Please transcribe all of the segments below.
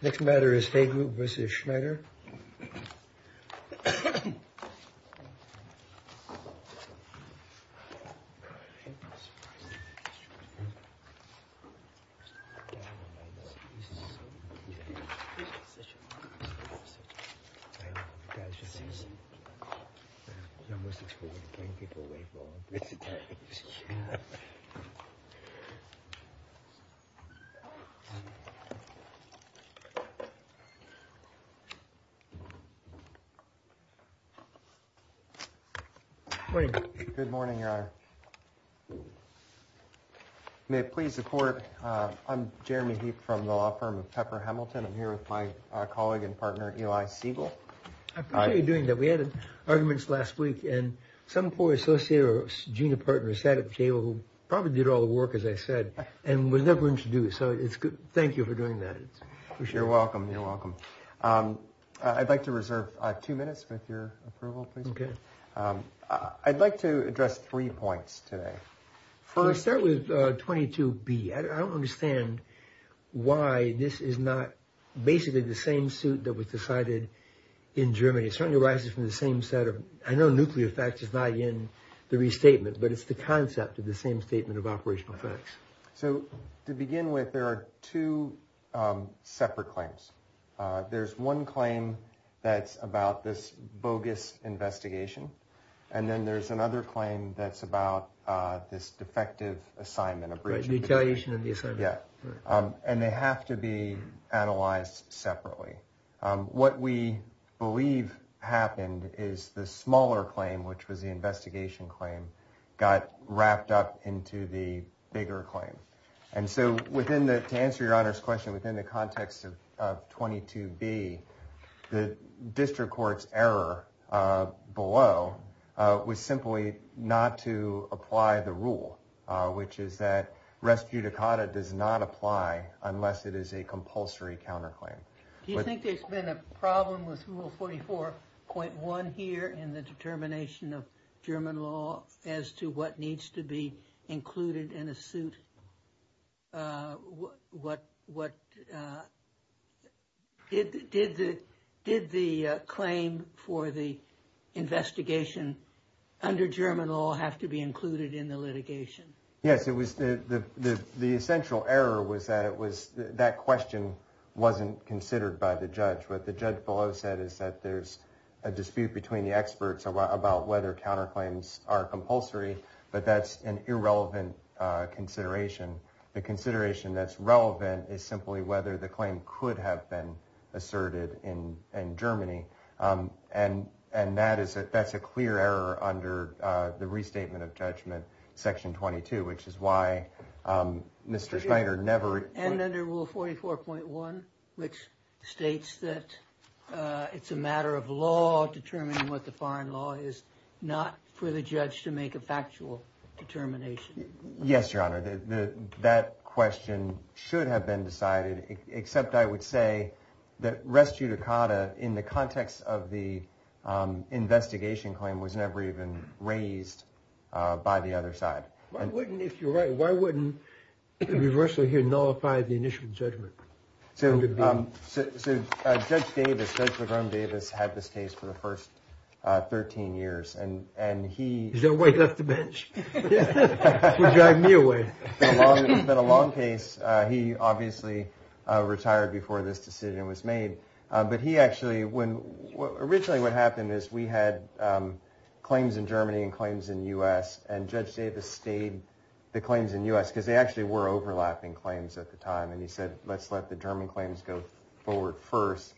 Next matter is Hay Group v. Schneider. Good morning, Your Honor. May it please the Court, I'm Jeremy Heap from the law firm of Pepper Hamilton. I'm here with my colleague and partner, Eli Siegel. I appreciate you doing that. We had arguments last week, and some poor associate or junior partner sat at the table who probably did all the work, as I said, and was never introduced. So thank you for doing that. You're welcome. You're welcome. I'd like to reserve two minutes with your approval, please. Okay. I'd like to address three points today. I'll start with 22B. I don't understand why this is not basically the same suit that was decided in Germany. It certainly arises from the same set of, I know nuclear effect is not in the restatement, but it's the concept of the same statement of operational facts. So to begin with, there are two separate claims. There's one claim that's about this bogus investigation, and then there's another claim that's about this defective assignment. And they have to be analyzed separately. What we believe happened is the smaller claim, which was the investigation claim, got wrapped up into the bigger claim. And so to answer your Honor's question, within the context of 22B, the district court's error below was simply not to apply the rule, which is that res judicata does not apply unless it is a compulsory counterclaim. Do you think there's been a problem with Rule 44.1 here in the determination of German law as to what needs to be included in a suit? Did the claim for the investigation under German law have to be included in the litigation? Yes, the essential error was that that question wasn't considered by the judge. What the judge below said is that there's a dispute between the experts about whether counterclaims are compulsory, but that's an irrelevant consideration. The consideration that's relevant is simply whether the claim could have been asserted in Germany. And that's a clear error under the restatement of judgment, section 22, which is why Mr. Schneider never... And under Rule 44.1, which states that it's a matter of law determining what the foreign law is, not for the judge to make a factual determination. Yes, Your Honor, that question should have been decided, except I would say that res judicata in the context of the investigation claim was never even raised by the other side. Why wouldn't, if you're right, why wouldn't the reversal here nullify the initial judgment? So Judge Davis, Judge LaGrom Davis, had this case for the first 13 years and he... Is that why he left the bench? It's been a long case. He obviously retired before this decision was made. But he actually, when, originally what happened is we had claims in Germany and claims in the U.S. And Judge Davis stayed the claims in U.S. because they actually were overlapping claims at the time. And he said, let's let the German claims go forward first.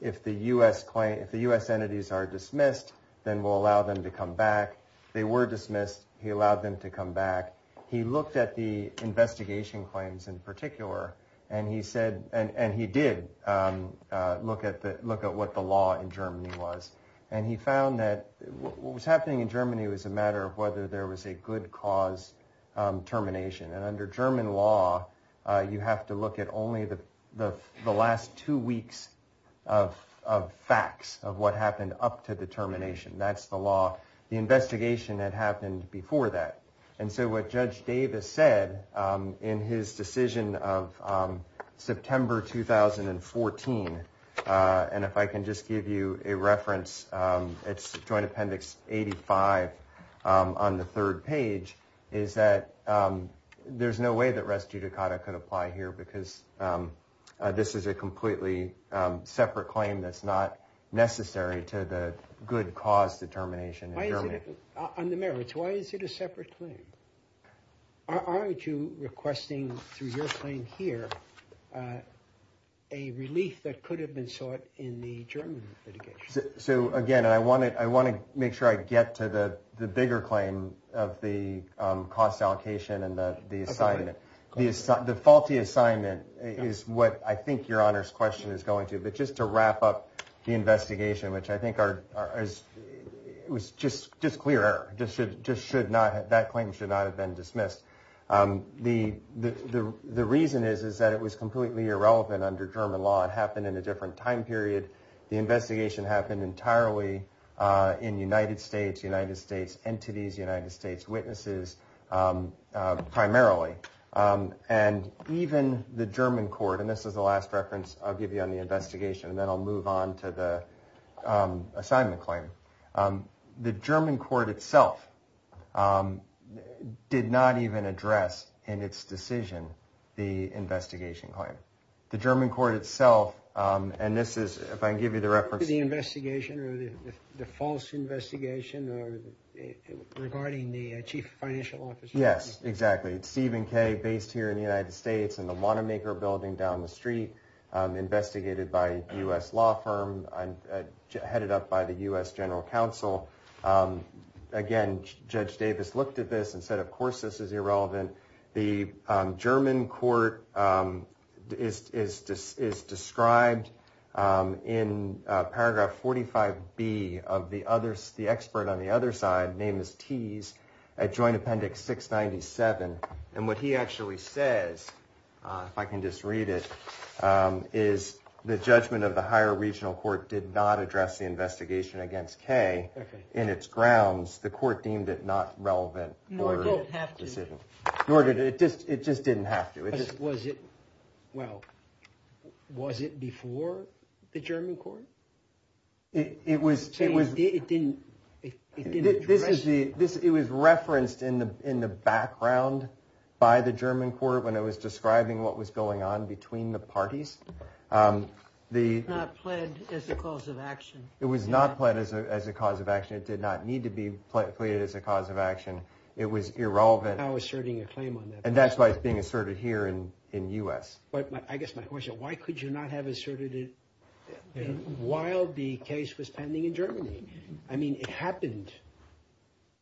If the U.S. claim, if the U.S. entities are dismissed, then we'll allow them to come back. They were dismissed. He allowed them to come back. He looked at the investigation claims in particular and he said, and he did look at the look at what the law in Germany was. And he found that what was happening in Germany was a matter of whether there was a good cause termination. And under German law, you have to look at only the last two weeks of facts of what happened up to the termination. That's the law. The investigation that happened before that. And so what Judge Davis said in his decision of September 2014. And if I can just give you a reference, it's Joint Appendix 85 on the third page. Is that there's no way that res judicata could apply here because this is a completely separate claim that's not necessary to the good cause determination. Why is it on the merits? Why is it a separate claim? Aren't you requesting through your claim here a relief that could have been sought in the German litigation? So, again, I want it. I want to make sure I get to the bigger claim of the cost allocation and the assignment. The default, the assignment is what I think your honor's question is going to. But just to wrap up the investigation, which I think are as it was just just clear, just should just should not that claim should not have been dismissed. The the the reason is, is that it was completely irrelevant under German law. It happened in a different time period. The investigation happened entirely in United States, United States entities, United States witnesses primarily. And even the German court. And this is the last reference I'll give you on the investigation. And then I'll move on to the assignment claim. The German court itself did not even address in its decision. The investigation claim, the German court itself. And this is if I give you the reference to the investigation or the false investigation regarding the chief financial officer. Yes, exactly. It's Stephen K. based here in the United States and the Wanamaker building down the street investigated by a U.S. law firm headed up by the U.S. general counsel. Again, Judge Davis looked at this and said, of course, this is irrelevant. The German court is just is described in paragraph forty five B of the others. The expert on the other side name is T's a joint appendix six ninety seven. And what he actually says, if I can just read it, is the judgment of the higher regional court did not address the investigation against K in its grounds. The court deemed it not relevant. No, I don't have to. It just it just didn't have to. It was it. Well, was it before the German court? It was it was it didn't. This is the this. It was referenced in the in the background by the German court when it was describing what was going on between the parties. The plan is the cause of action. It was not planned as a cause of action. It did not need to be played as a cause of action. It was irrelevant. And that's why it's being asserted here in the U.S. But I guess my question is, why could you not have asserted it while the case was pending in Germany? I mean, it happened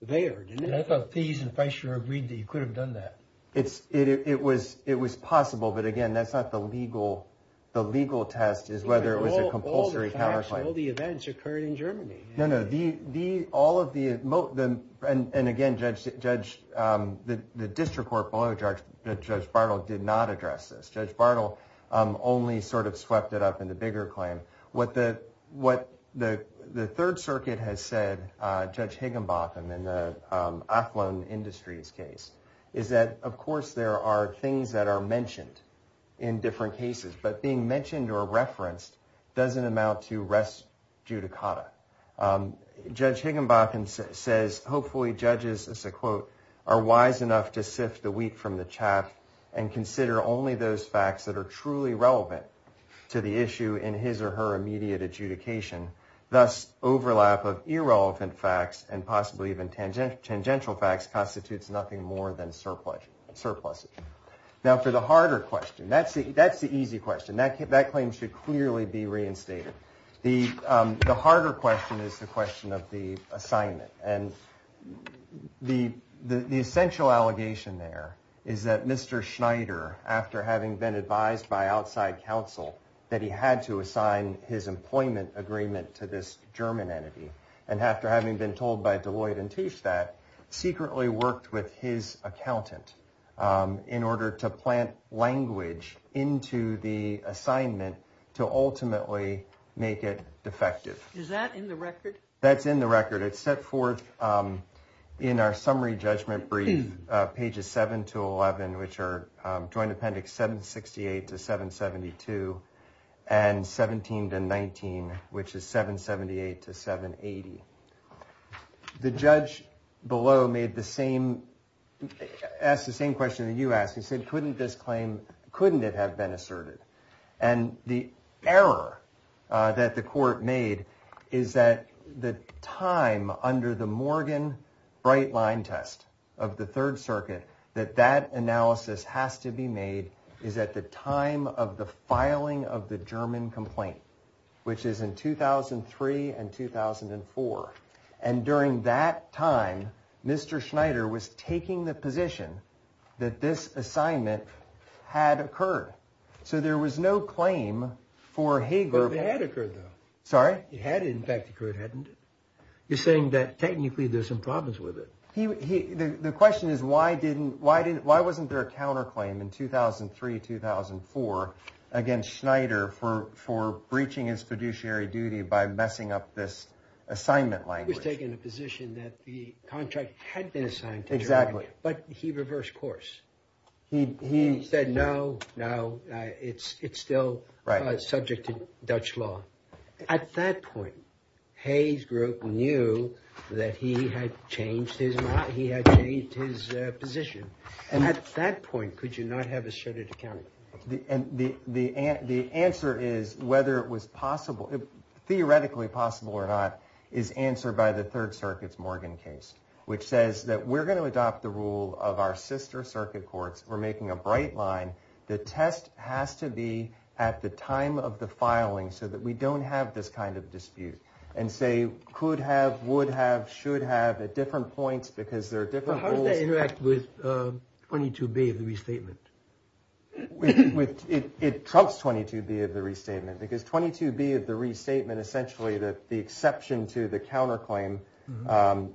there. And I thought these in pressure agreed that you could have done that. It's it was it was possible. But again, that's not the legal. The legal test is whether it was a compulsory. All the events occurred in Germany. No, no. The the all of the most of them. And again, Judge Judge, the district court below Judge Judge Bartle did not address this. Judge Bartle only sort of swept it up in the bigger claim. What the what the the Third Circuit has said, Judge Higginbotham in the Athlon Industries case, is that, of course, there are things that are mentioned in different cases. But being mentioned or referenced doesn't amount to rest judicata. Judge Higginbotham says hopefully judges, as a quote, are wise enough to sift the wheat from the chaff and consider only those facts that are truly relevant to the issue in his or her immediate adjudication. Thus, overlap of irrelevant facts and possibly even tangential facts constitutes nothing more than surplus surplus. Now, for the harder question, that's the that's the easy question that that claim should clearly be reinstated. The harder question is the question of the assignment. And the the essential allegation there is that Mr. Schneider, after having been advised by outside counsel that he had to assign his employment agreement to this German entity. And after having been told by Deloitte and teach that secretly worked with his accountant in order to plant language into the assignment to ultimately make it defective. Is that in the record? That's in the record. It's set forth in our summary judgment brief, pages seven to 11, which are joint appendix 768 to 772 and 17 to 19, which is 778 to 780. The judge below made the same as the same question that you asked. He said, couldn't this claim? Couldn't it have been asserted? And the error that the court made is that the time under the Morgan bright line test of the Third Circuit, that that analysis has to be made. Is that the time of the filing of the German complaint, which is in 2003 and 2004? And during that time, Mr. Schneider was taking the position that this assignment had occurred. So there was no claim for Hager. It had occurred, though. Sorry? It had in fact occurred, hadn't it? You're saying that technically there's some problems with it. The question is, why didn't, why didn't, why wasn't there a counterclaim in 2003, 2004 against Schneider for for breaching his fiduciary duty by messing up this assignment language? He was taking a position that the contract had been assigned to Germany. Exactly. But he reversed course. He said, no, no, it's it's still subject to Dutch law. At that point, Hayes group knew that he had changed his mind. He had changed his position. And at that point, could you not have asserted account? The answer is whether it was possible, theoretically possible or not, is answered by the Third Circuit's Morgan case, which says that we're going to adopt the rule of our sister circuit courts. We're making a bright line. The test has to be at the time of the filing so that we don't have this kind of dispute and say could have, would have, should have at different points because there are different. With 22 B of the restatement, which it trumps 22 B of the restatement, because 22 B of the restatement, essentially the exception to the counterclaim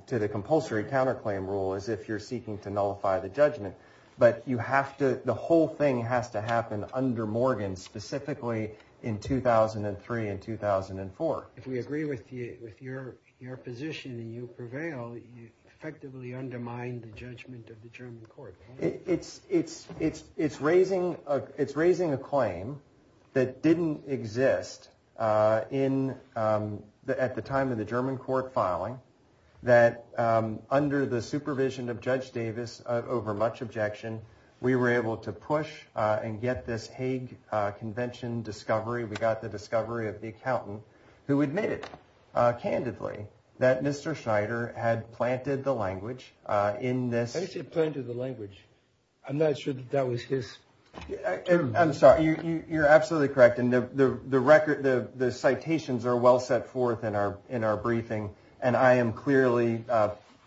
to the compulsory counterclaim rule is if you're seeking to nullify the judgment. But you have to. The whole thing has to happen under Morgan, specifically in 2003 and 2004. If we agree with you, with your your position and you prevail, you effectively undermine the judgment of the German court. It's it's it's it's raising it's raising a claim that didn't exist in the at the time of the German court filing that under the supervision of Judge Davis over much objection. We were able to push and get this Hague Convention discovery. We got the discovery of the accountant who admitted candidly that Mr. Schneider had planted the language in this. He planted the language. I'm not sure that that was his. I'm sorry. You're absolutely correct. And the record, the citations are well set forth in our in our briefing. And I am clearly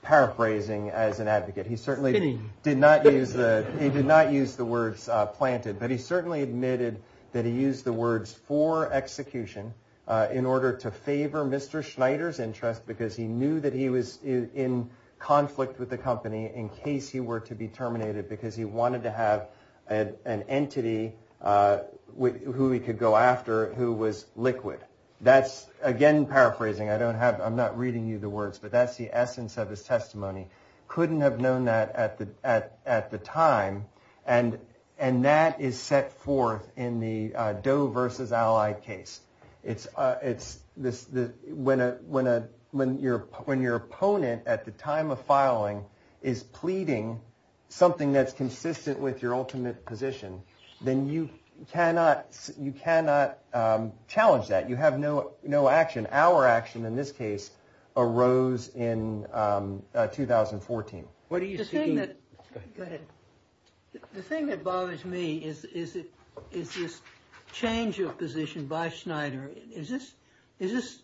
paraphrasing as an advocate. He certainly did not use that. He did not use the words planted, but he certainly admitted that he used the words for execution in order to favor Mr. Schneider's interest. Because he knew that he was in conflict with the company in case he were to be terminated, because he wanted to have an entity with who he could go after who was liquid. That's, again, paraphrasing. I don't have I'm not reading you the words, but that's the essence of his testimony. Couldn't have known that at the at at the time. And and that is set forth in the Doe versus ally case. It's it's this when a when a when you're when your opponent at the time of filing is pleading something that's consistent with your ultimate position, then you cannot you cannot challenge that. You have no no action. Our action in this case arose in 2014. The thing that bothers me is, is it is this change of position by Schneider? Is this is this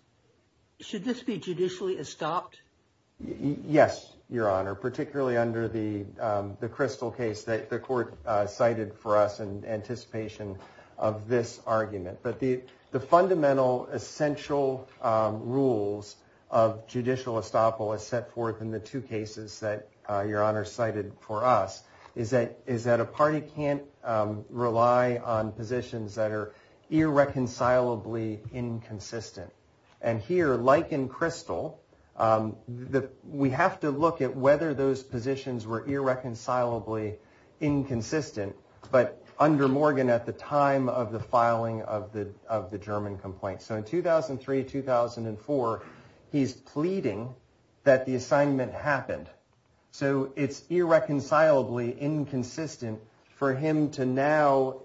should this be judicially stopped? Yes. Your Honor, particularly under the the crystal case that the court cited for us in anticipation of this argument. But the the fundamental essential rules of judicial estoppel is set forth in the two cases that your honor cited for us. Is that is that a party can't rely on positions that are irreconcilably inconsistent. And here, like in crystal that we have to look at whether those positions were irreconcilably inconsistent. But under Morgan, at the time of the filing of the of the German complaint. So in 2003, 2004, he's pleading that the assignment happened. So it's irreconcilably inconsistent for him to now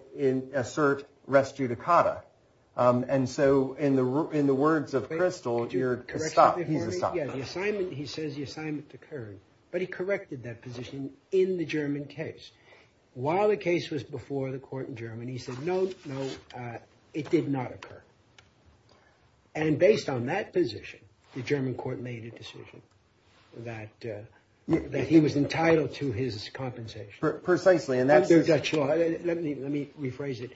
assert rest judicata. And so in the in the words of crystal, you're correct. He says the assignment occurred, but he corrected that position in the German case. While the case was before the court in Germany, he said, no, no, it did not occur. And based on that position, the German court made a decision that he was entitled to his compensation precisely. Let me rephrase it.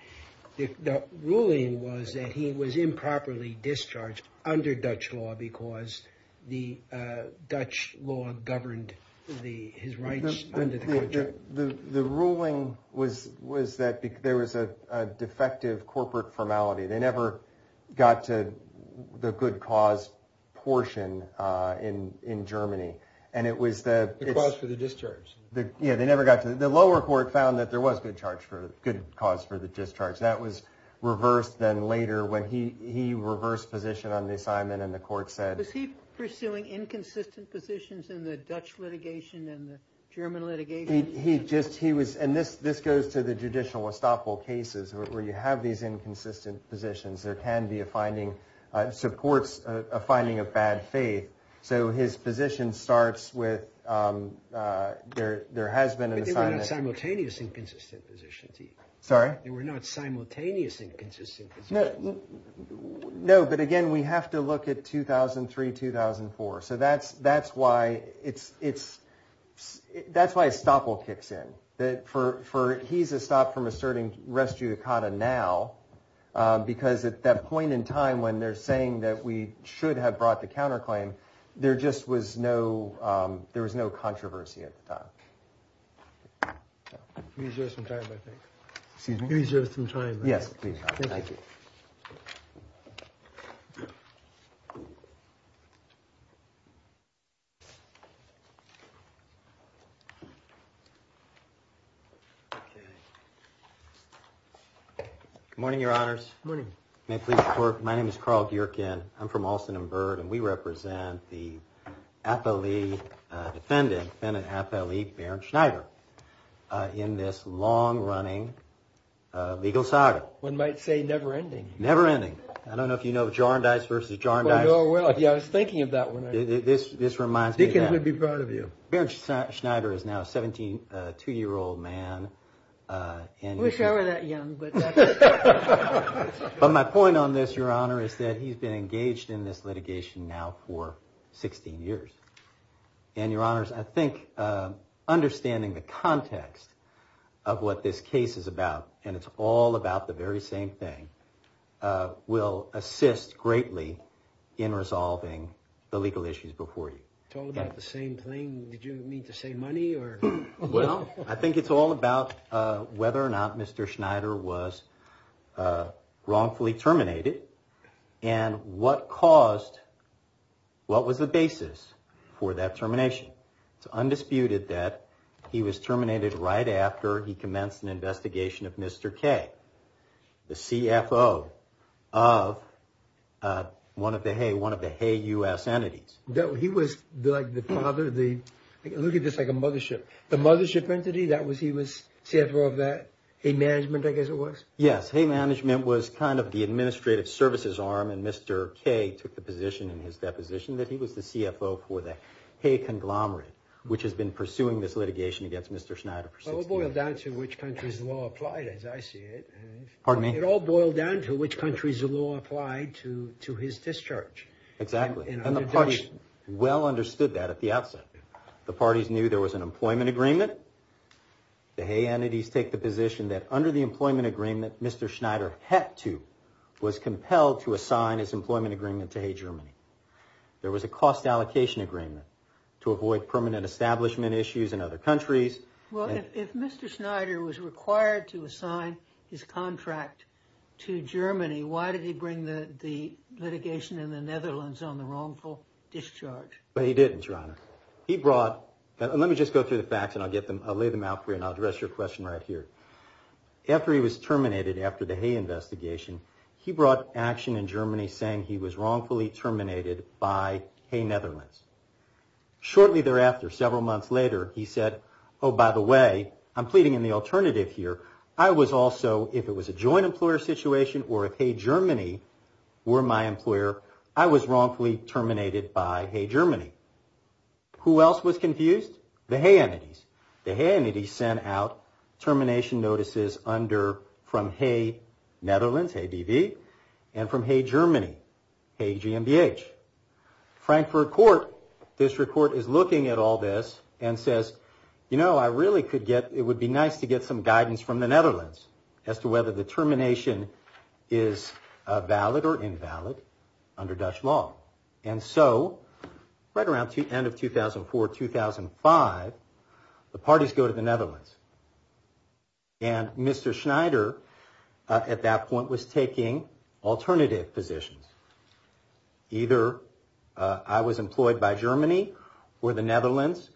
The ruling was that he was improperly discharged under Dutch law because the Dutch law governed the his rights. The ruling was was that there was a defective corporate formality. They never got to the good cause portion in in Germany. And it was the cause for the discharge that they never got to. The lower court found that there was good charge for good cause for the discharge. That was reversed. Then later when he he reversed position on the assignment and the court said, was he pursuing inconsistent positions in the Dutch litigation and the German litigation? He just he was. And this this goes to the judicial estoppel cases where you have these inconsistent positions. There can be a finding supports a finding of bad faith. So his position starts with there. There has been a simultaneous inconsistent position. Sorry. We're not simultaneous inconsistent. No, but again, we have to look at 2003, 2004. So that's that's why it's it's that's why estoppel kicks in that for for he's a stop from asserting res judicata now, because at that point in time when they're saying that we should have brought the counterclaim, there just was no there was no controversy at the time. He's just in time, I think he's just in time. Yes. Morning, Your Honors. Morning. My name is Carl. I'm from Alston and Bird. And we represent the athlete defendant and an athlete, Baron Schneider, in this long running legal saga. One might say never ending, never ending. I don't know if, you know, Jar and Dice versus Jar and Dice. I was thinking of that one. This this reminds me to be proud of you. Baron Schneider is now 17, a two year old man. I wish I were that young. But my point on this, Your Honor, is that he's been engaged in this litigation now for 16 years. And, Your Honors, I think understanding the context of what this case is about and it's all about the very same thing will assist greatly in resolving the legal issues before you. It's all about the same thing. Did you mean to say money or? Well, I think it's all about whether or not Mr. Schneider was wrongfully terminated. And what caused what was the basis for that termination? It's undisputed that he was terminated right after he commenced an investigation of Mr. K, the CFO of one of the hey, one of the hey, U.S. entities. No, he was like the father, the look at this like a mothership, the mothership entity. That was he was CFO of that. Hey, management, I guess it was. Yes. Hey, management was kind of the administrative services arm. And Mr. K took the position in his deposition that he was the CFO for the hey, conglomerate, which has been pursuing this litigation against Mr. Schneider. It all boiled down to which country's law applied, as I see it. Pardon me? It all boiled down to which country's law applied to to his discharge. Exactly. And the party well understood that at the outset. The parties knew there was an employment agreement. The hey, entities take the position that under the employment agreement, Mr. Schneider had to was compelled to assign his employment agreement to hey, Germany. There was a cost allocation agreement to avoid permanent establishment issues in other countries. Well, if Mr. Schneider was required to assign his contract to Germany, why did he bring the litigation in the Netherlands on the wrongful discharge? But he didn't run. He brought. Let me just go through the facts and I'll get them. I'll lay them out for you and I'll address your question right here. After he was terminated after the hey, investigation, he brought action in Germany saying he was wrongfully terminated by hey, Netherlands. Shortly thereafter, several months later, he said, oh, by the way, I'm pleading in the alternative here. I was also if it was a joint employer situation or if hey, Germany were my employer, I was wrongfully terminated by hey, Germany. Who else was confused? The hey, entities. The hey, entities sent out termination notices under from hey, Netherlands, hey, DV and from hey, Germany, hey, GMBH. Frankfurt Court District Court is looking at all this and says, you know, I really could get it would be nice to get some guidance from the Netherlands as to whether the termination is valid or invalid under Dutch law. And so right around the end of 2004, 2005, the parties go to the Netherlands. And Mr. Schneider at that point was taking alternative positions. Either I was employed by Germany or the Netherlands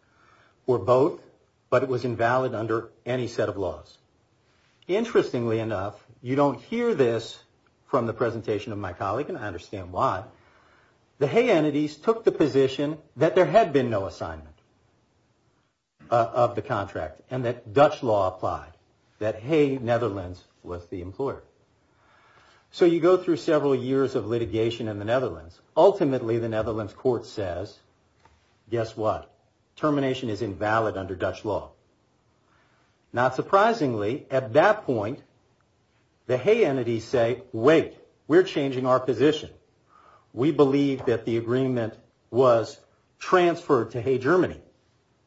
or both, but it was invalid under any set of laws. Interestingly enough, you don't hear this from the presentation of my colleague, and I understand why. The hey, entities took the position that there had been no assignment of the contract and that Dutch law applied, that hey, Netherlands was the employer. So you go through several years of litigation in the Netherlands. Ultimately, the Netherlands court says, guess what? Termination is invalid under Dutch law. Not surprisingly, at that point, the hey, entities say, wait, we're changing our position. We believe that the agreement was transferred to hey, Germany.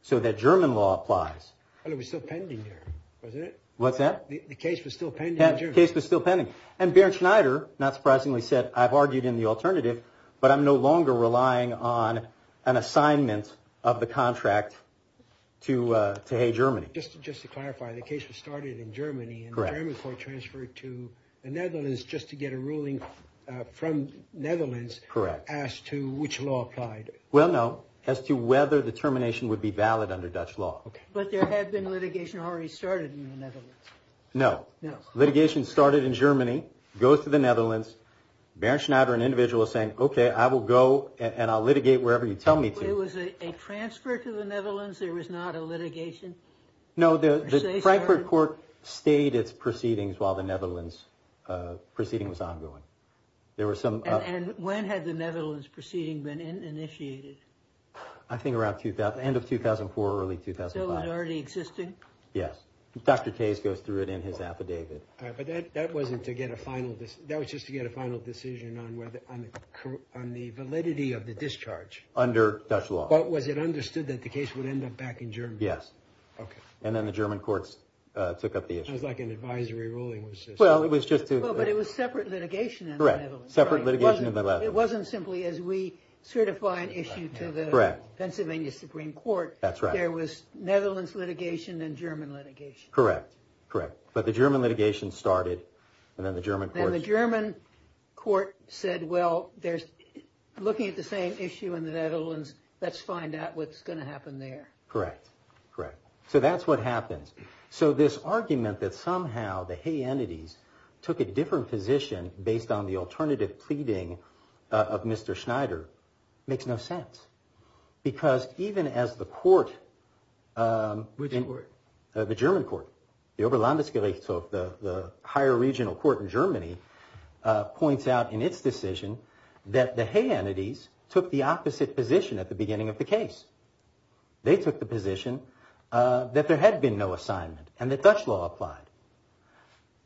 So that German law applies. And it was still pending here, wasn't it? What's that? The case was still pending. The case was still pending. And Bernd Schneider, not surprisingly, said, I've argued in the alternative, but I'm no longer relying on an assignment of the contract to hey, Germany. Just to clarify, the case was started in Germany, and the German court transferred to the Netherlands just to get a ruling from the Netherlands as to which law applied. Well, no, as to whether the termination would be valid under Dutch law. But there had been litigation already started in the Netherlands. No. Litigation started in Germany, goes to the Netherlands. Bernd Schneider, an individual, is saying, OK, I will go, and I'll litigate wherever you tell me to. It was a transfer to the Netherlands? There was not a litigation? No, the Frankfurt court stayed its proceedings while the Netherlands proceeding was ongoing. And when had the Netherlands proceeding been initiated? I think around the end of 2004, early 2005. So it was already existing? Yes. Dr. Case goes through it in his affidavit. But that was just to get a final decision on the validity of the discharge? Under Dutch law. But was it understood that the case would end up back in Germany? Yes. And then the German courts took up the issue. It was like an advisory ruling. Well, but it was separate litigation in the Netherlands. Correct. Separate litigation in the Netherlands. But it wasn't simply as we certify an issue to the Pennsylvania Supreme Court. That's right. There was Netherlands litigation and German litigation. Correct. Correct. But the German litigation started. And then the German court said, well, looking at the same issue in the Netherlands, let's find out what's going to happen there. Correct. Correct. So that's what happens. So this argument that somehow the Hague entities took a different position based on the alternative pleading of Mr. Schneider makes no sense. Because even as the court. Which court? The German court. The Oberlandesgerichtshof, the higher regional court in Germany, points out in its decision that the Hague entities took the opposite position at the beginning of the case. They took the position that there had been no assignment and that Dutch law applied.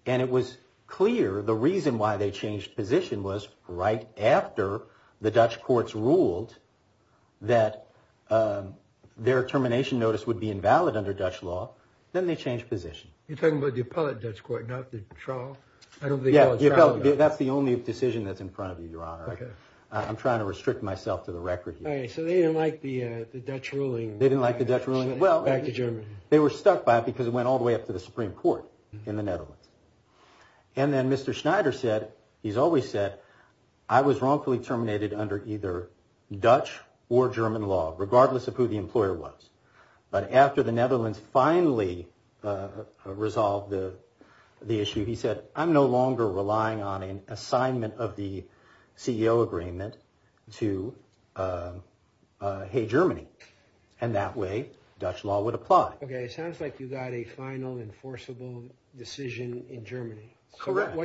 And it was clear the reason why they changed position was right after the Dutch courts ruled that their termination notice would be invalid under Dutch law. Then they changed position. You're talking about the appellate Dutch court, not the trial? Yeah, the appellate. That's the only decision that's in front of you, Your Honor. I'm trying to restrict myself to the record here. So they didn't like the Dutch ruling. They didn't like the Dutch ruling. Well. Back to Germany. They were stuck by it because it went all the way up to the Supreme Court in the Netherlands. And then Mr. Schneider said, he's always said, I was wrongfully terminated under either Dutch or German law, regardless of who the employer was. But after the Netherlands finally resolved the issue, he said, I'm no longer relying on an assignment of the CEO agreement to Hague, Germany. And that way, Dutch law would apply. OK. It sounds like you got a final enforceable decision in Germany. Correct.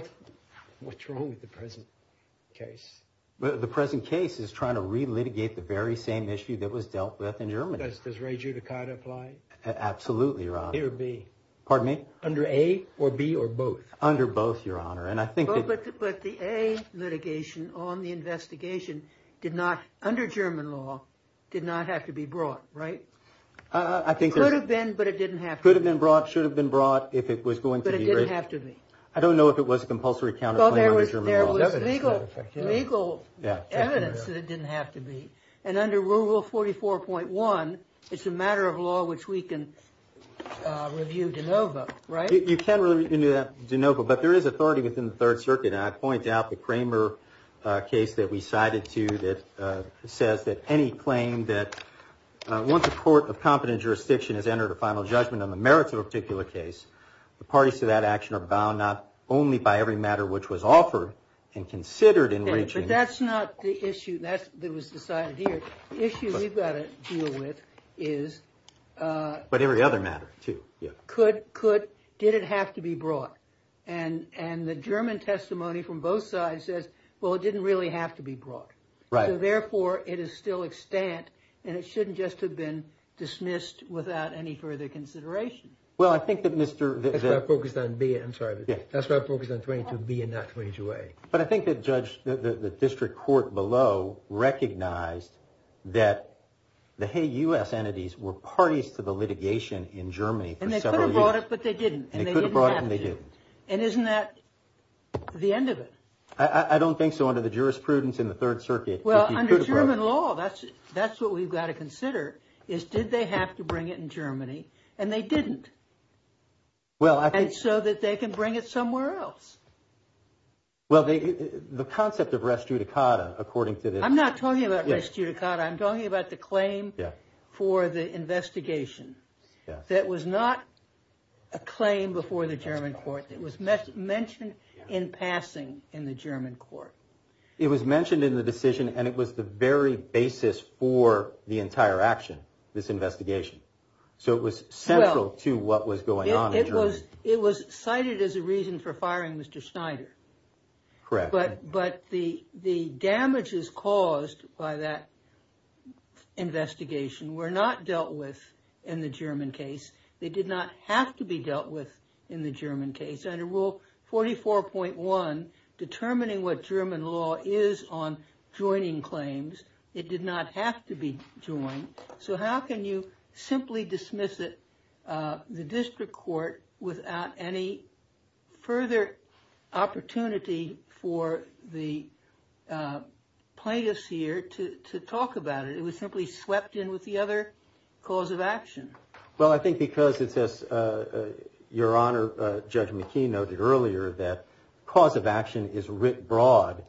What's wrong with the present case? The present case is trying to re-litigate the very same issue that was dealt with in Germany. Does re-judicata apply? Absolutely, Your Honor. A or B? Pardon me? Under A or B or both? Under both, Your Honor. And I think that... But the A litigation on the investigation did not, under German law, did not have to be brought, right? I think there's... It could have been, but it didn't have to be. Could have been brought, should have been brought, if it was going to be... But it didn't have to be. I don't know if it was a compulsory counterclaim under German law. Well, there was legal evidence that it didn't have to be. And under Rule 44.1, it's a matter of law which we can review de novo, right? You can review that de novo, but there is authority within the Third Circuit, and I point out the Kramer case that we cited to that says that any claim that once a court of competent jurisdiction has entered a final judgment on the merits of a particular case, the parties to that action are bound not only by every matter which was offered and considered in reaching... But that's not the issue that was decided here. The issue we've got to deal with is... But every other matter, too. Could... Did it have to be brought? And the German testimony from both sides says, well, it didn't really have to be brought. Right. So, therefore, it is still extant, and it shouldn't just have been dismissed without any further consideration. Well, I think that Mr... That's what I focused on B, I'm sorry. That's what I focused on 22B and not 22A. But I think the judge, the district court below, recognized that the Hague U.S. entities were parties to the litigation in Germany for several years. And they could have brought it, but they didn't, and they didn't have to. And they could have brought it, and they didn't. And isn't that the end of it? I don't think so under the jurisprudence in the Third Circuit. Well, under German law, that's what we've got to consider, is did they have to bring it in Germany, and they didn't. Well, I think... And so that they can bring it somewhere else. Well, the concept of res judicata, according to the... I'm not talking about res judicata. I'm talking about the claim for the investigation that was not a claim before the German court. It was mentioned in passing in the German court. It was mentioned in the decision, and it was the very basis for the entire action, this investigation. Because it was cited as a reason for firing Mr. Schneider. Correct. But the damages caused by that investigation were not dealt with in the German case. They did not have to be dealt with in the German case. Under Rule 44.1, determining what German law is on joining claims, it did not have to be joined. So how can you simply dismiss it, the district court, without any further opportunity for the plaintiffs here to talk about it? It was simply swept in with the other cause of action. Well, I think because it says, Your Honor, Judge McKee noted earlier that cause of action is writ broad,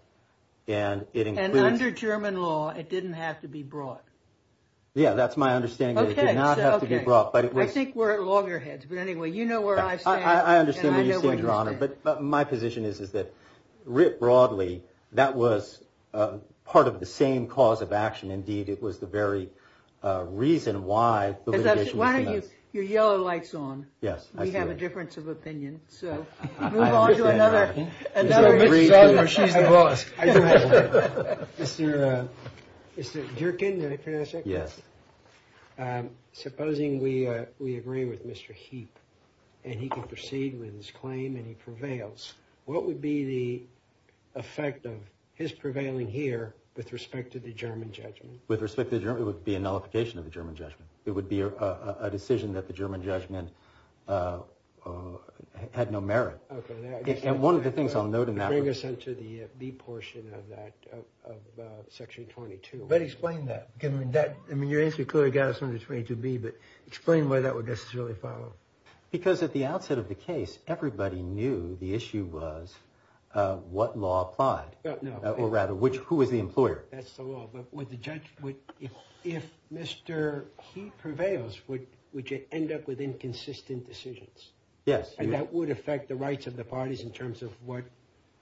and it includes... And under German law, it didn't have to be broad. Yeah, that's my understanding. It did not have to be broad. I think we're at loggerheads. But anyway, you know where I stand, and I know where you stand. I understand where you stand, Your Honor. But my position is that writ broadly, that was part of the same cause of action. Indeed, it was the very reason why the litigation was denied. Why don't you put your yellow lights on? We have a difference of opinion. So we move on to another... Mr. Sondland, she's the boss. Mr. Durkin, did I pronounce that correctly? Yes. Supposing we agree with Mr. Heap, and he can proceed with his claim and he prevails, what would be the effect of his prevailing here with respect to the German judgment? With respect to the German, it would be a nullification of the German judgment. It would be a decision that the German judgment had no merit. Okay. And one of the things I'll note in that... Bring us into the B portion of that, of Section 22. But explain that. I mean, your answer clearly got us on to 22B, but explain why that would necessarily follow. Because at the outset of the case, everybody knew the issue was what law applied. No. Or rather, who was the employer? That's the law. But would the judge... If Mr. Heap prevails, would you end up with inconsistent decisions? Yes. And that would affect the rights of the parties in terms of what,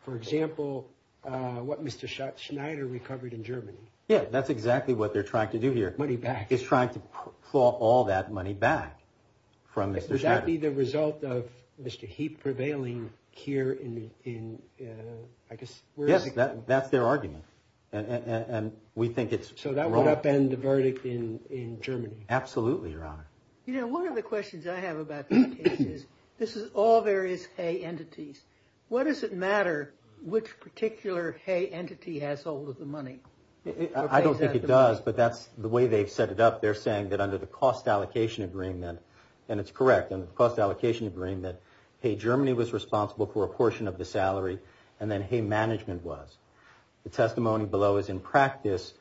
for example, what Mr. Schneider recovered in Germany? Yeah, that's exactly what they're trying to do here. Money back. Is trying to claw all that money back from Mr. Schneider. Would that be the result of Mr. Heap prevailing here in, I guess... Yes, that's their argument. And we think it's wrong. So that would upend the verdict in Germany. Absolutely, Your Honor. You know, one of the questions I have about this case is, this is all various hay entities. Why does it matter which particular hay entity has all of the money? I don't think it does, but that's the way they've set it up. They're saying that under the cost allocation agreement, and it's correct, under the cost allocation agreement, that Hay Germany was responsible for a portion of the salary, and then Hay Management was. The testimony below is in practice,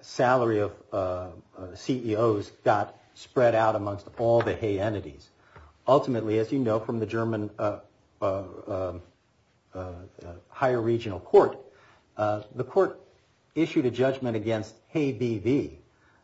salary of CEOs got spread out amongst all the hay entities. Ultimately, as you know from the German higher regional court, the court issued a judgment against Hay BV,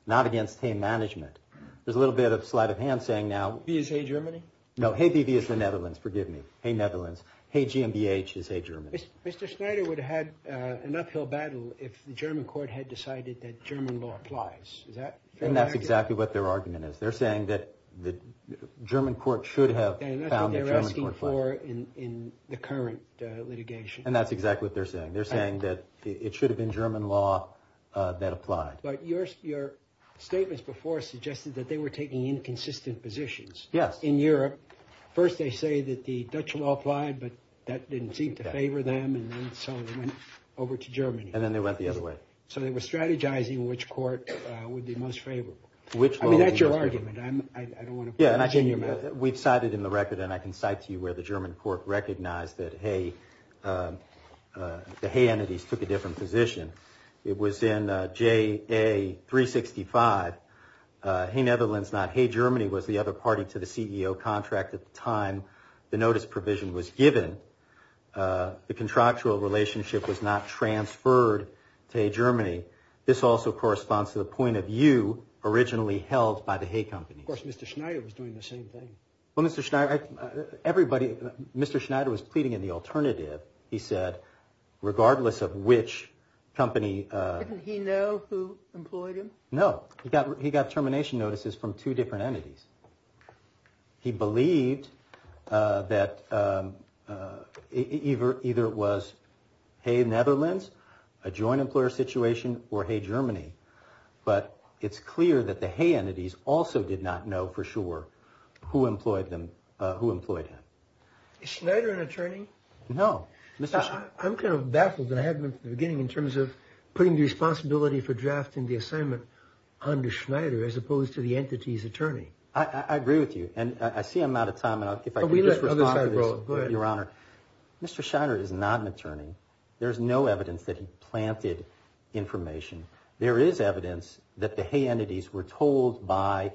not against Hay Management. There's a little bit of sleight of hand saying now... B is Hay Germany? No, Hay BV is the Netherlands, forgive me. Hay Netherlands. Hay GmbH is Hay Germany. Mr. Schneider would have had an uphill battle if the German court had decided that German law applies. Is that fair to argue? And that's exactly what their argument is. They're saying that the German court should have... And that's what they're asking for in the current litigation. And that's exactly what they're saying. They're saying that it should have been German law that applied. But your statements before suggested that they were taking inconsistent positions. Yes. In Europe, first they say that the Dutch law applied, but that didn't seem to favor them. And then so they went over to Germany. And then they went the other way. So they were strategizing which court would be most favorable. I mean, that's your argument. I don't want to... We've cited in the record, and I can cite to you where the German court recognized that the hay entities took a different position. It was in JA365. Hay Netherlands, not Hay Germany, was the other party to the CEO contract at the time the notice provision was given. The contractual relationship was not transferred to Hay Germany. This also corresponds to the point of view originally held by the Hay Company. Of course, Mr. Schneider was doing the same thing. Well, Mr. Schneider, everybody... Mr. Schneider was pleading in the alternative. He said, regardless of which company... Didn't he know who employed him? No. He got termination notices from two different entities. He believed that either it was Hay Netherlands, a joint employer situation, or Hay Germany. But it's clear that the hay entities also did not know for sure who employed him. Is Schneider an attorney? No. I'm kind of baffled, and I have been from the beginning, in terms of putting the responsibility for drafting the assignment under Schneider, as opposed to the entity's attorney. I agree with you, and I see I'm out of time, and if I can just respond to this... Go ahead. Mr. Schneider is not an attorney. There's no evidence that he planted information. There is evidence that the hay entities were told by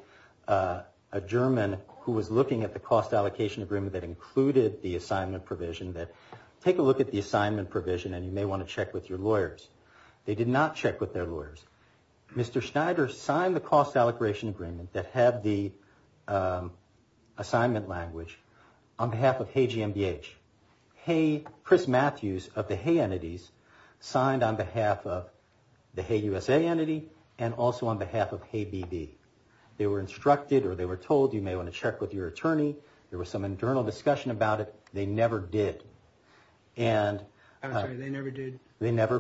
a German who was looking at the cost allocation agreement that included the assignment provision, that take a look at the assignment provision, and you may want to check with your lawyers. They did not check with their lawyers. Mr. Schneider signed the cost allocation agreement that had the assignment language on behalf of Hay GMBH. Chris Matthews of the hay entities signed on behalf of the Hay USA entity, and also on behalf of Hay BB. They were instructed, or they were told, you may want to check with your attorney. There was some internal discussion about it. They never did. I'm sorry, they never did? They never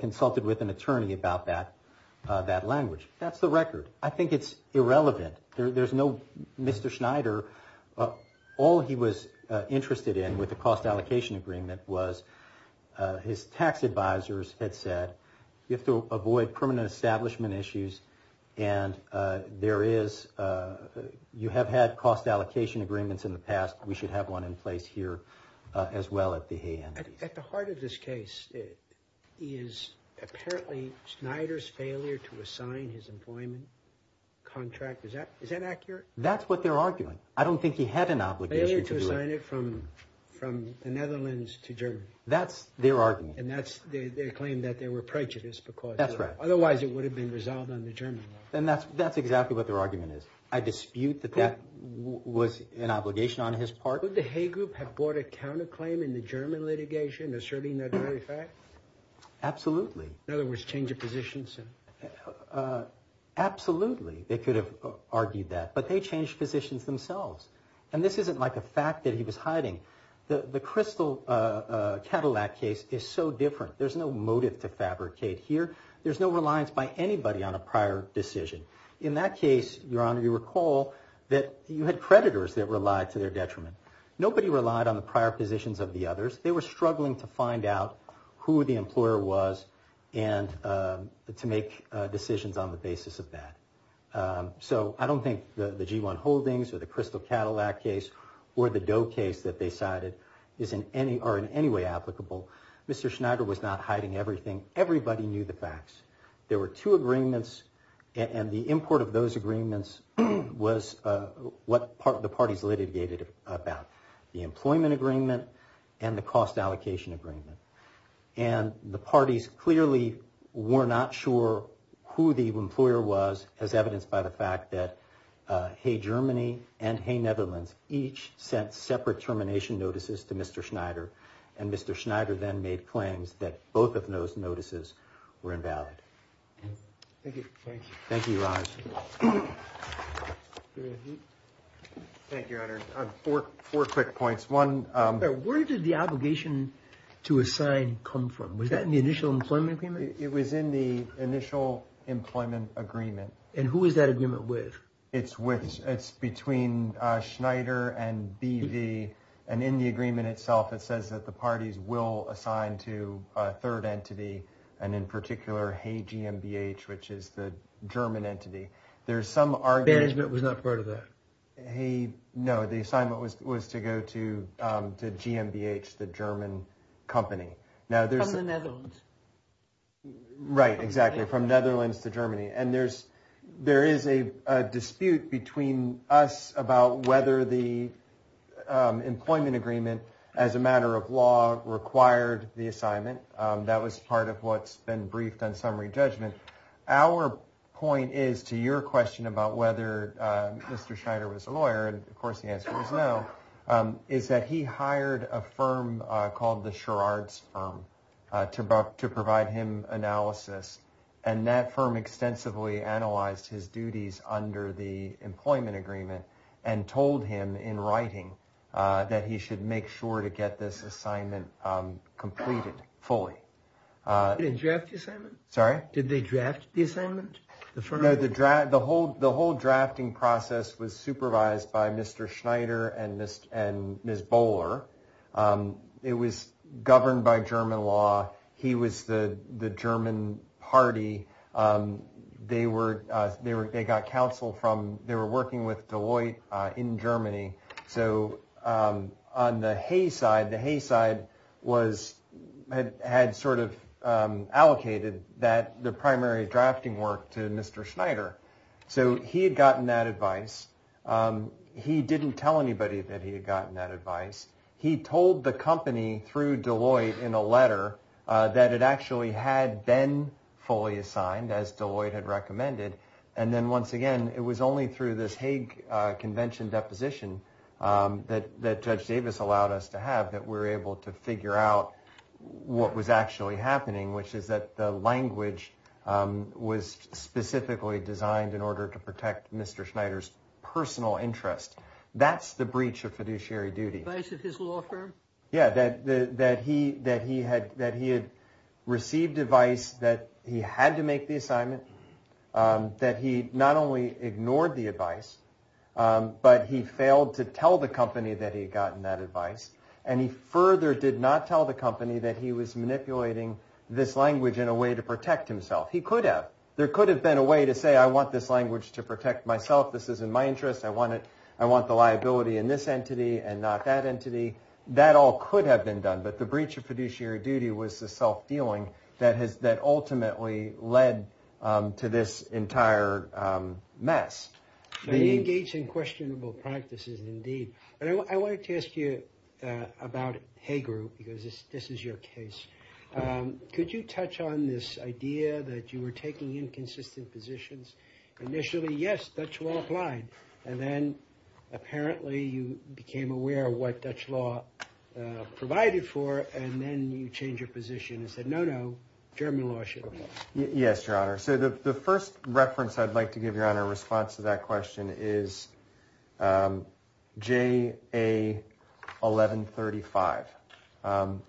consulted with an attorney about that language. That's the record. I think it's irrelevant. Mr. Schneider, all he was interested in with the cost allocation agreement was his tax advisors had said, you have to avoid permanent establishment issues, and you have had cost allocation agreements in the past. We should have one in place here as well at the hay entities. At the heart of this case is apparently Schneider's failure to assign his employment contract. Is that accurate? That's what they're arguing. I don't think he had an obligation to do it. Failure to assign it from the Netherlands to Germany. That's their argument. And that's their claim that they were prejudiced because otherwise it would have been resolved under German law. And that's exactly what their argument is. I dispute that that was an obligation on his part. Would the hay group have brought a counterclaim in the German litigation asserting that very fact? Absolutely. In other words, change of positions? Absolutely. They could have argued that. But they changed positions themselves. And this isn't like a fact that he was hiding. The Crystal Cadillac case is so different. There's no motive to fabricate here. There's no reliance by anybody on a prior decision. In that case, Your Honor, you recall that you had creditors that relied to their detriment. Nobody relied on the prior positions of the others. They were struggling to find out who the employer was and to make decisions on the basis of that. So I don't think the G1 Holdings or the Crystal Cadillac case or the Doe case that they cited are in any way applicable. Mr. Schneider was not hiding everything. Everybody knew the facts. There were two agreements, and the import of those agreements was what the parties litigated about, the employment agreement and the cost allocation agreement. And the parties clearly were not sure who the employer was, as evidenced by the fact that Hay Germany and Hay Netherlands each sent separate termination notices to Mr. Schneider. And Mr. Schneider then made claims that both of those notices were invalid. Thank you. Thank you, Your Honor. Thank you, Your Honor. Four quick points. Where did the obligation to assign come from? Was that in the initial employment agreement? It was in the initial employment agreement. And who was that agreement with? It's between Schneider and BV. And in the agreement itself, it says that the parties will assign to a third entity, and in particular Hay GmbH, which is the German entity. Management was not part of that. No, the assignment was to go to GmbH, the German company. From the Netherlands. Right, exactly, from Netherlands to Germany. And there is a dispute between us about whether the employment agreement, as a matter of law, required the assignment. That was part of what's been briefed on summary judgment. Our point is, to your question about whether Mr. Schneider was a lawyer, and of course the answer is no, is that he hired a firm called the Sherrard's firm to provide him analysis. And that firm extensively analyzed his duties under the employment agreement, and told him in writing that he should make sure to get this assignment completed fully. Did they draft the assignment? No, the whole drafting process was supervised by Mr. Schneider and Ms. Bowler. It was governed by German law. He was the German party. They were working with Deloitte in Germany. So on the Hay side, the Hay side had allocated the primary drafting work to Mr. Schneider. So he had gotten that advice. He didn't tell anybody that he had gotten that advice. He told the company through Deloitte in a letter that it actually had been fully assigned, as Deloitte had recommended. And then once again, it was only through this Hague Convention deposition that Judge Davis allowed us to have, that we were able to figure out what was actually happening, which is that the language was specifically designed in order to protect Mr. Schneider's personal interest. That's the breach of fiduciary duty. Advice of his law firm? Yeah, that he had received advice that he had to make the assignment, that he not only ignored the advice, but he failed to tell the company that he had gotten that advice. And he further did not tell the company that he was manipulating this language in a way to protect himself. He could have. There could have been a way to say, I want this language to protect myself. This is in my interest. I want the liability in this entity and not that entity. That all could have been done. But the breach of fiduciary duty was the self-dealing that ultimately led to this entire mess. They engage in questionable practices, indeed. I wanted to ask you about Hague Group, because this is your case. Could you touch on this idea that you were taking inconsistent positions? Initially, yes, Dutch law applied. And then, apparently, you became aware of what Dutch law provided for, and then you changed your position and said, no, no, German law should apply. Yes, Your Honor. So the first reference I'd like to give Your Honor in response to that question is J.A. 1135.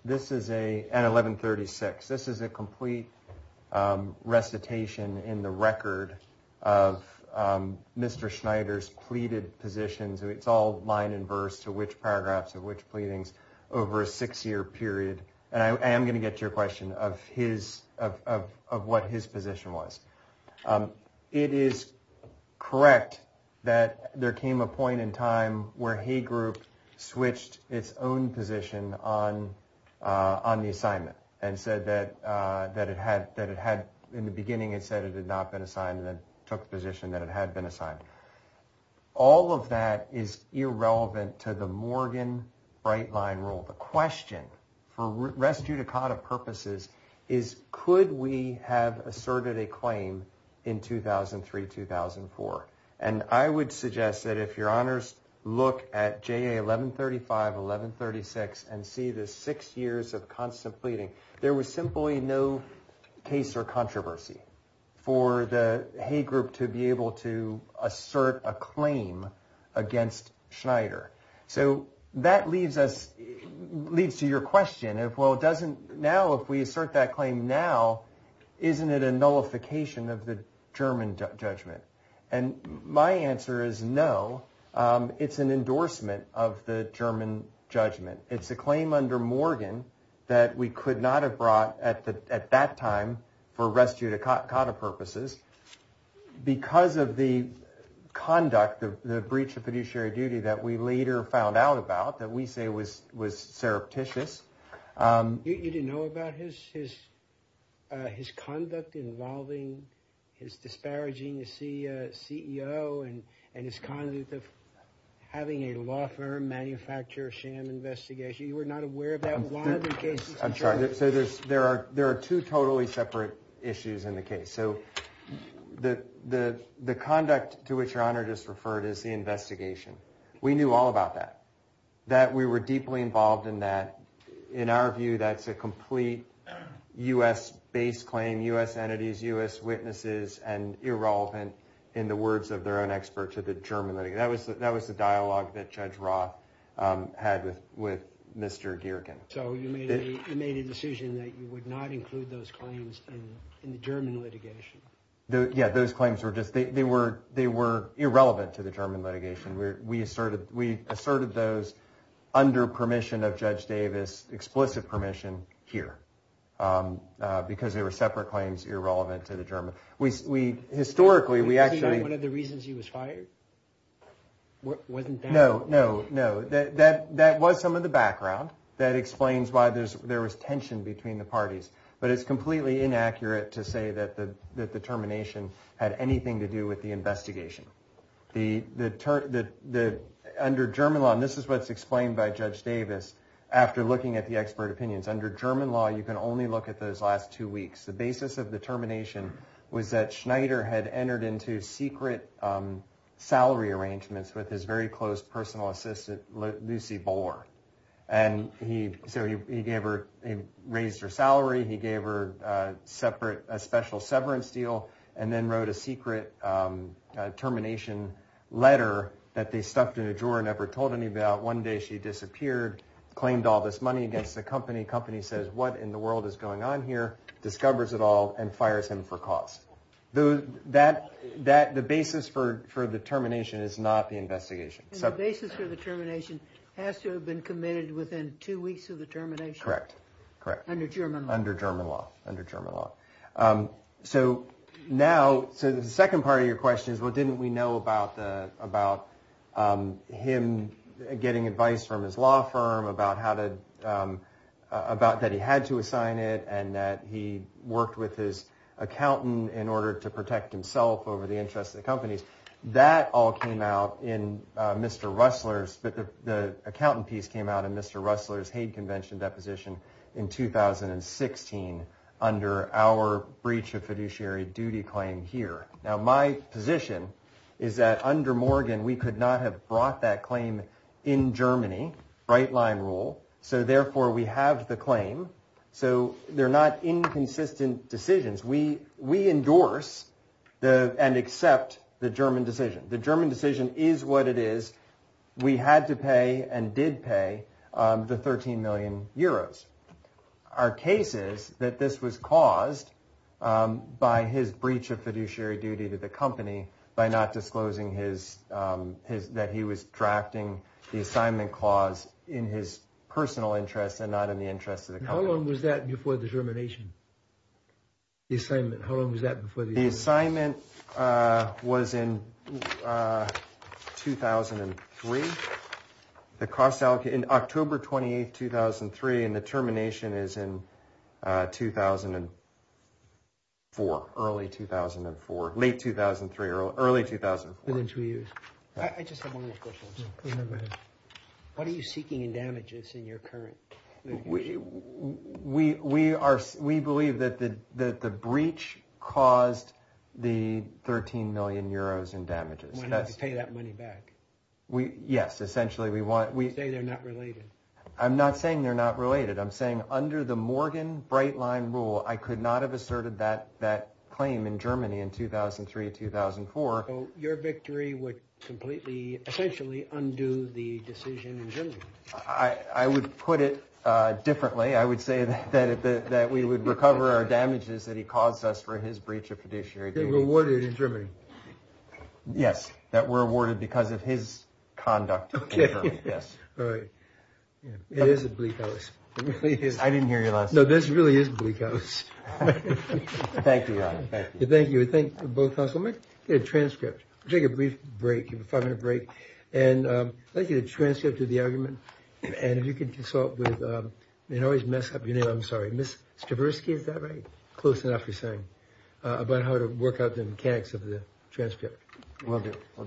This is a – and 1136. This is a complete recitation in the record of Mr. Schneider's pleaded positions. It's all line and verse to which paragraphs of which pleadings over a six-year period. And I am going to get to your question of his – of what his position was. It is correct that there came a point in time where Hague Group switched its own position on the assignment and said that it had – in the beginning it said it had not been assigned and then took the position that it had been assigned. All of that is irrelevant to the Morgan bright-line rule. The question, for res judicata purposes, is could we have asserted a claim in 2003-2004? And I would suggest that if Your Honors look at J.A. 1135, 1136, and see the six years of constant pleading, there was simply no case or controversy for the Hague Group to be able to assert a claim against Schneider. So that leaves us – leads to your question of, well, it doesn't – now if we assert that claim now, isn't it a nullification of the German judgment? And my answer is no. It's an endorsement of the German judgment. It's a claim under Morgan that we could not have brought at that time for res judicata purposes because of the conduct of the breach of fiduciary duty that we later found out about that we say was surreptitious. You didn't know about his conduct involving his disparaging the CEO and his conduct of having a law firm manufacture a sham investigation? You were not aware of that? I'm sorry. There are two totally separate issues in the case. So the conduct to which Your Honor just referred is the investigation. We knew all about that. We were deeply involved in that. In our view, that's a complete U.S.-based claim, U.S. entities, U.S. witnesses, and irrelevant in the words of their own expert to the German litigation. That was the dialogue that Judge Roth had with Mr. Geerken. So you made a decision that you would not include those claims in the German litigation? Yeah, those claims were just – they were irrelevant to the German litigation. We asserted those under permission of Judge Davis, explicit permission, here because they were separate claims irrelevant to the German. Historically, we actually – Was he one of the reasons he was fired? Wasn't that – No, no, no. That was some of the background that explains why there was tension between the parties. But it's completely inaccurate to say that the termination had anything to do with the investigation. The – under German law – and this is what's explained by Judge Davis after looking at the expert opinions. Under German law, you can only look at those last two weeks. The basis of the termination was that Schneider had entered into secret salary arrangements with his very close personal assistant, Lucy Bohr. And he – so he gave her – he raised her salary. He gave her separate – a special severance deal and then wrote a secret termination letter that they stuffed in a drawer and never told anybody about. One day she disappeared, claimed all this money against the company. Company says, what in the world is going on here, discovers it all, and fires him for cause. That – the basis for the termination is not the investigation. And the basis for the termination has to have been committed within two weeks of the termination? Correct, correct. Under German law. Under German law, under German law. So now – so the second part of your question is, well, didn't we know about the – about him getting advice from his law firm about how to – about that he had to assign it and that he worked with his accountant in order to protect himself over the interests of the companies. That all came out in Mr. Ressler's – the accountant piece came out in Mr. Ressler's Hague Convention deposition in 2016 under our breach of fiduciary duty claim here. Now my position is that under Morgan we could not have brought that claim in Germany, right-line rule. So therefore we have the claim. So they're not inconsistent decisions. We endorse and accept the German decision. The German decision is what it is. We had to pay and did pay the 13 million euros. Our case is that this was caused by his breach of fiduciary duty to the company by not disclosing his – that he was drafting the assignment clause in his personal interest and not in the interest of the company. How long was that before the termination, the assignment? How long was that before the assignment? The assignment was in 2003. The cost – in October 28, 2003, and the termination is in 2004, early 2004, late 2003, early 2004. Within two years. I just have one more question. Go ahead. What are you seeking in damages in your current litigation? We believe that the breach caused the 13 million euros in damages. We're not going to pay that money back. Yes, essentially we want – You say they're not related. I'm not saying they're not related. I'm saying under the Morgan bright-line rule I could not have asserted that claim in Germany in 2003, 2004. So your victory would completely, essentially undo the decision in Germany. I would put it differently. I would say that we would recover our damages that he caused us for his breach of fiduciary duty. They were awarded in Germany. Yes, that were awarded because of his conduct in Germany. Okay. Yes. All right. It is a bleak house. It really is. I didn't hear your last sentence. No, this really is a bleak house. Thank you. Thank you. Thank you. Thank you both. I'm going to get a transcript. I'll take a brief break. You have a five-minute break. And I'd like to get a transcript of the argument. And if you could consult with – I always mess up your name. I'm sorry. Ms. Stravinsky, is that right? Close enough, you're saying. About how to work out the mechanics of the transcript. Will do.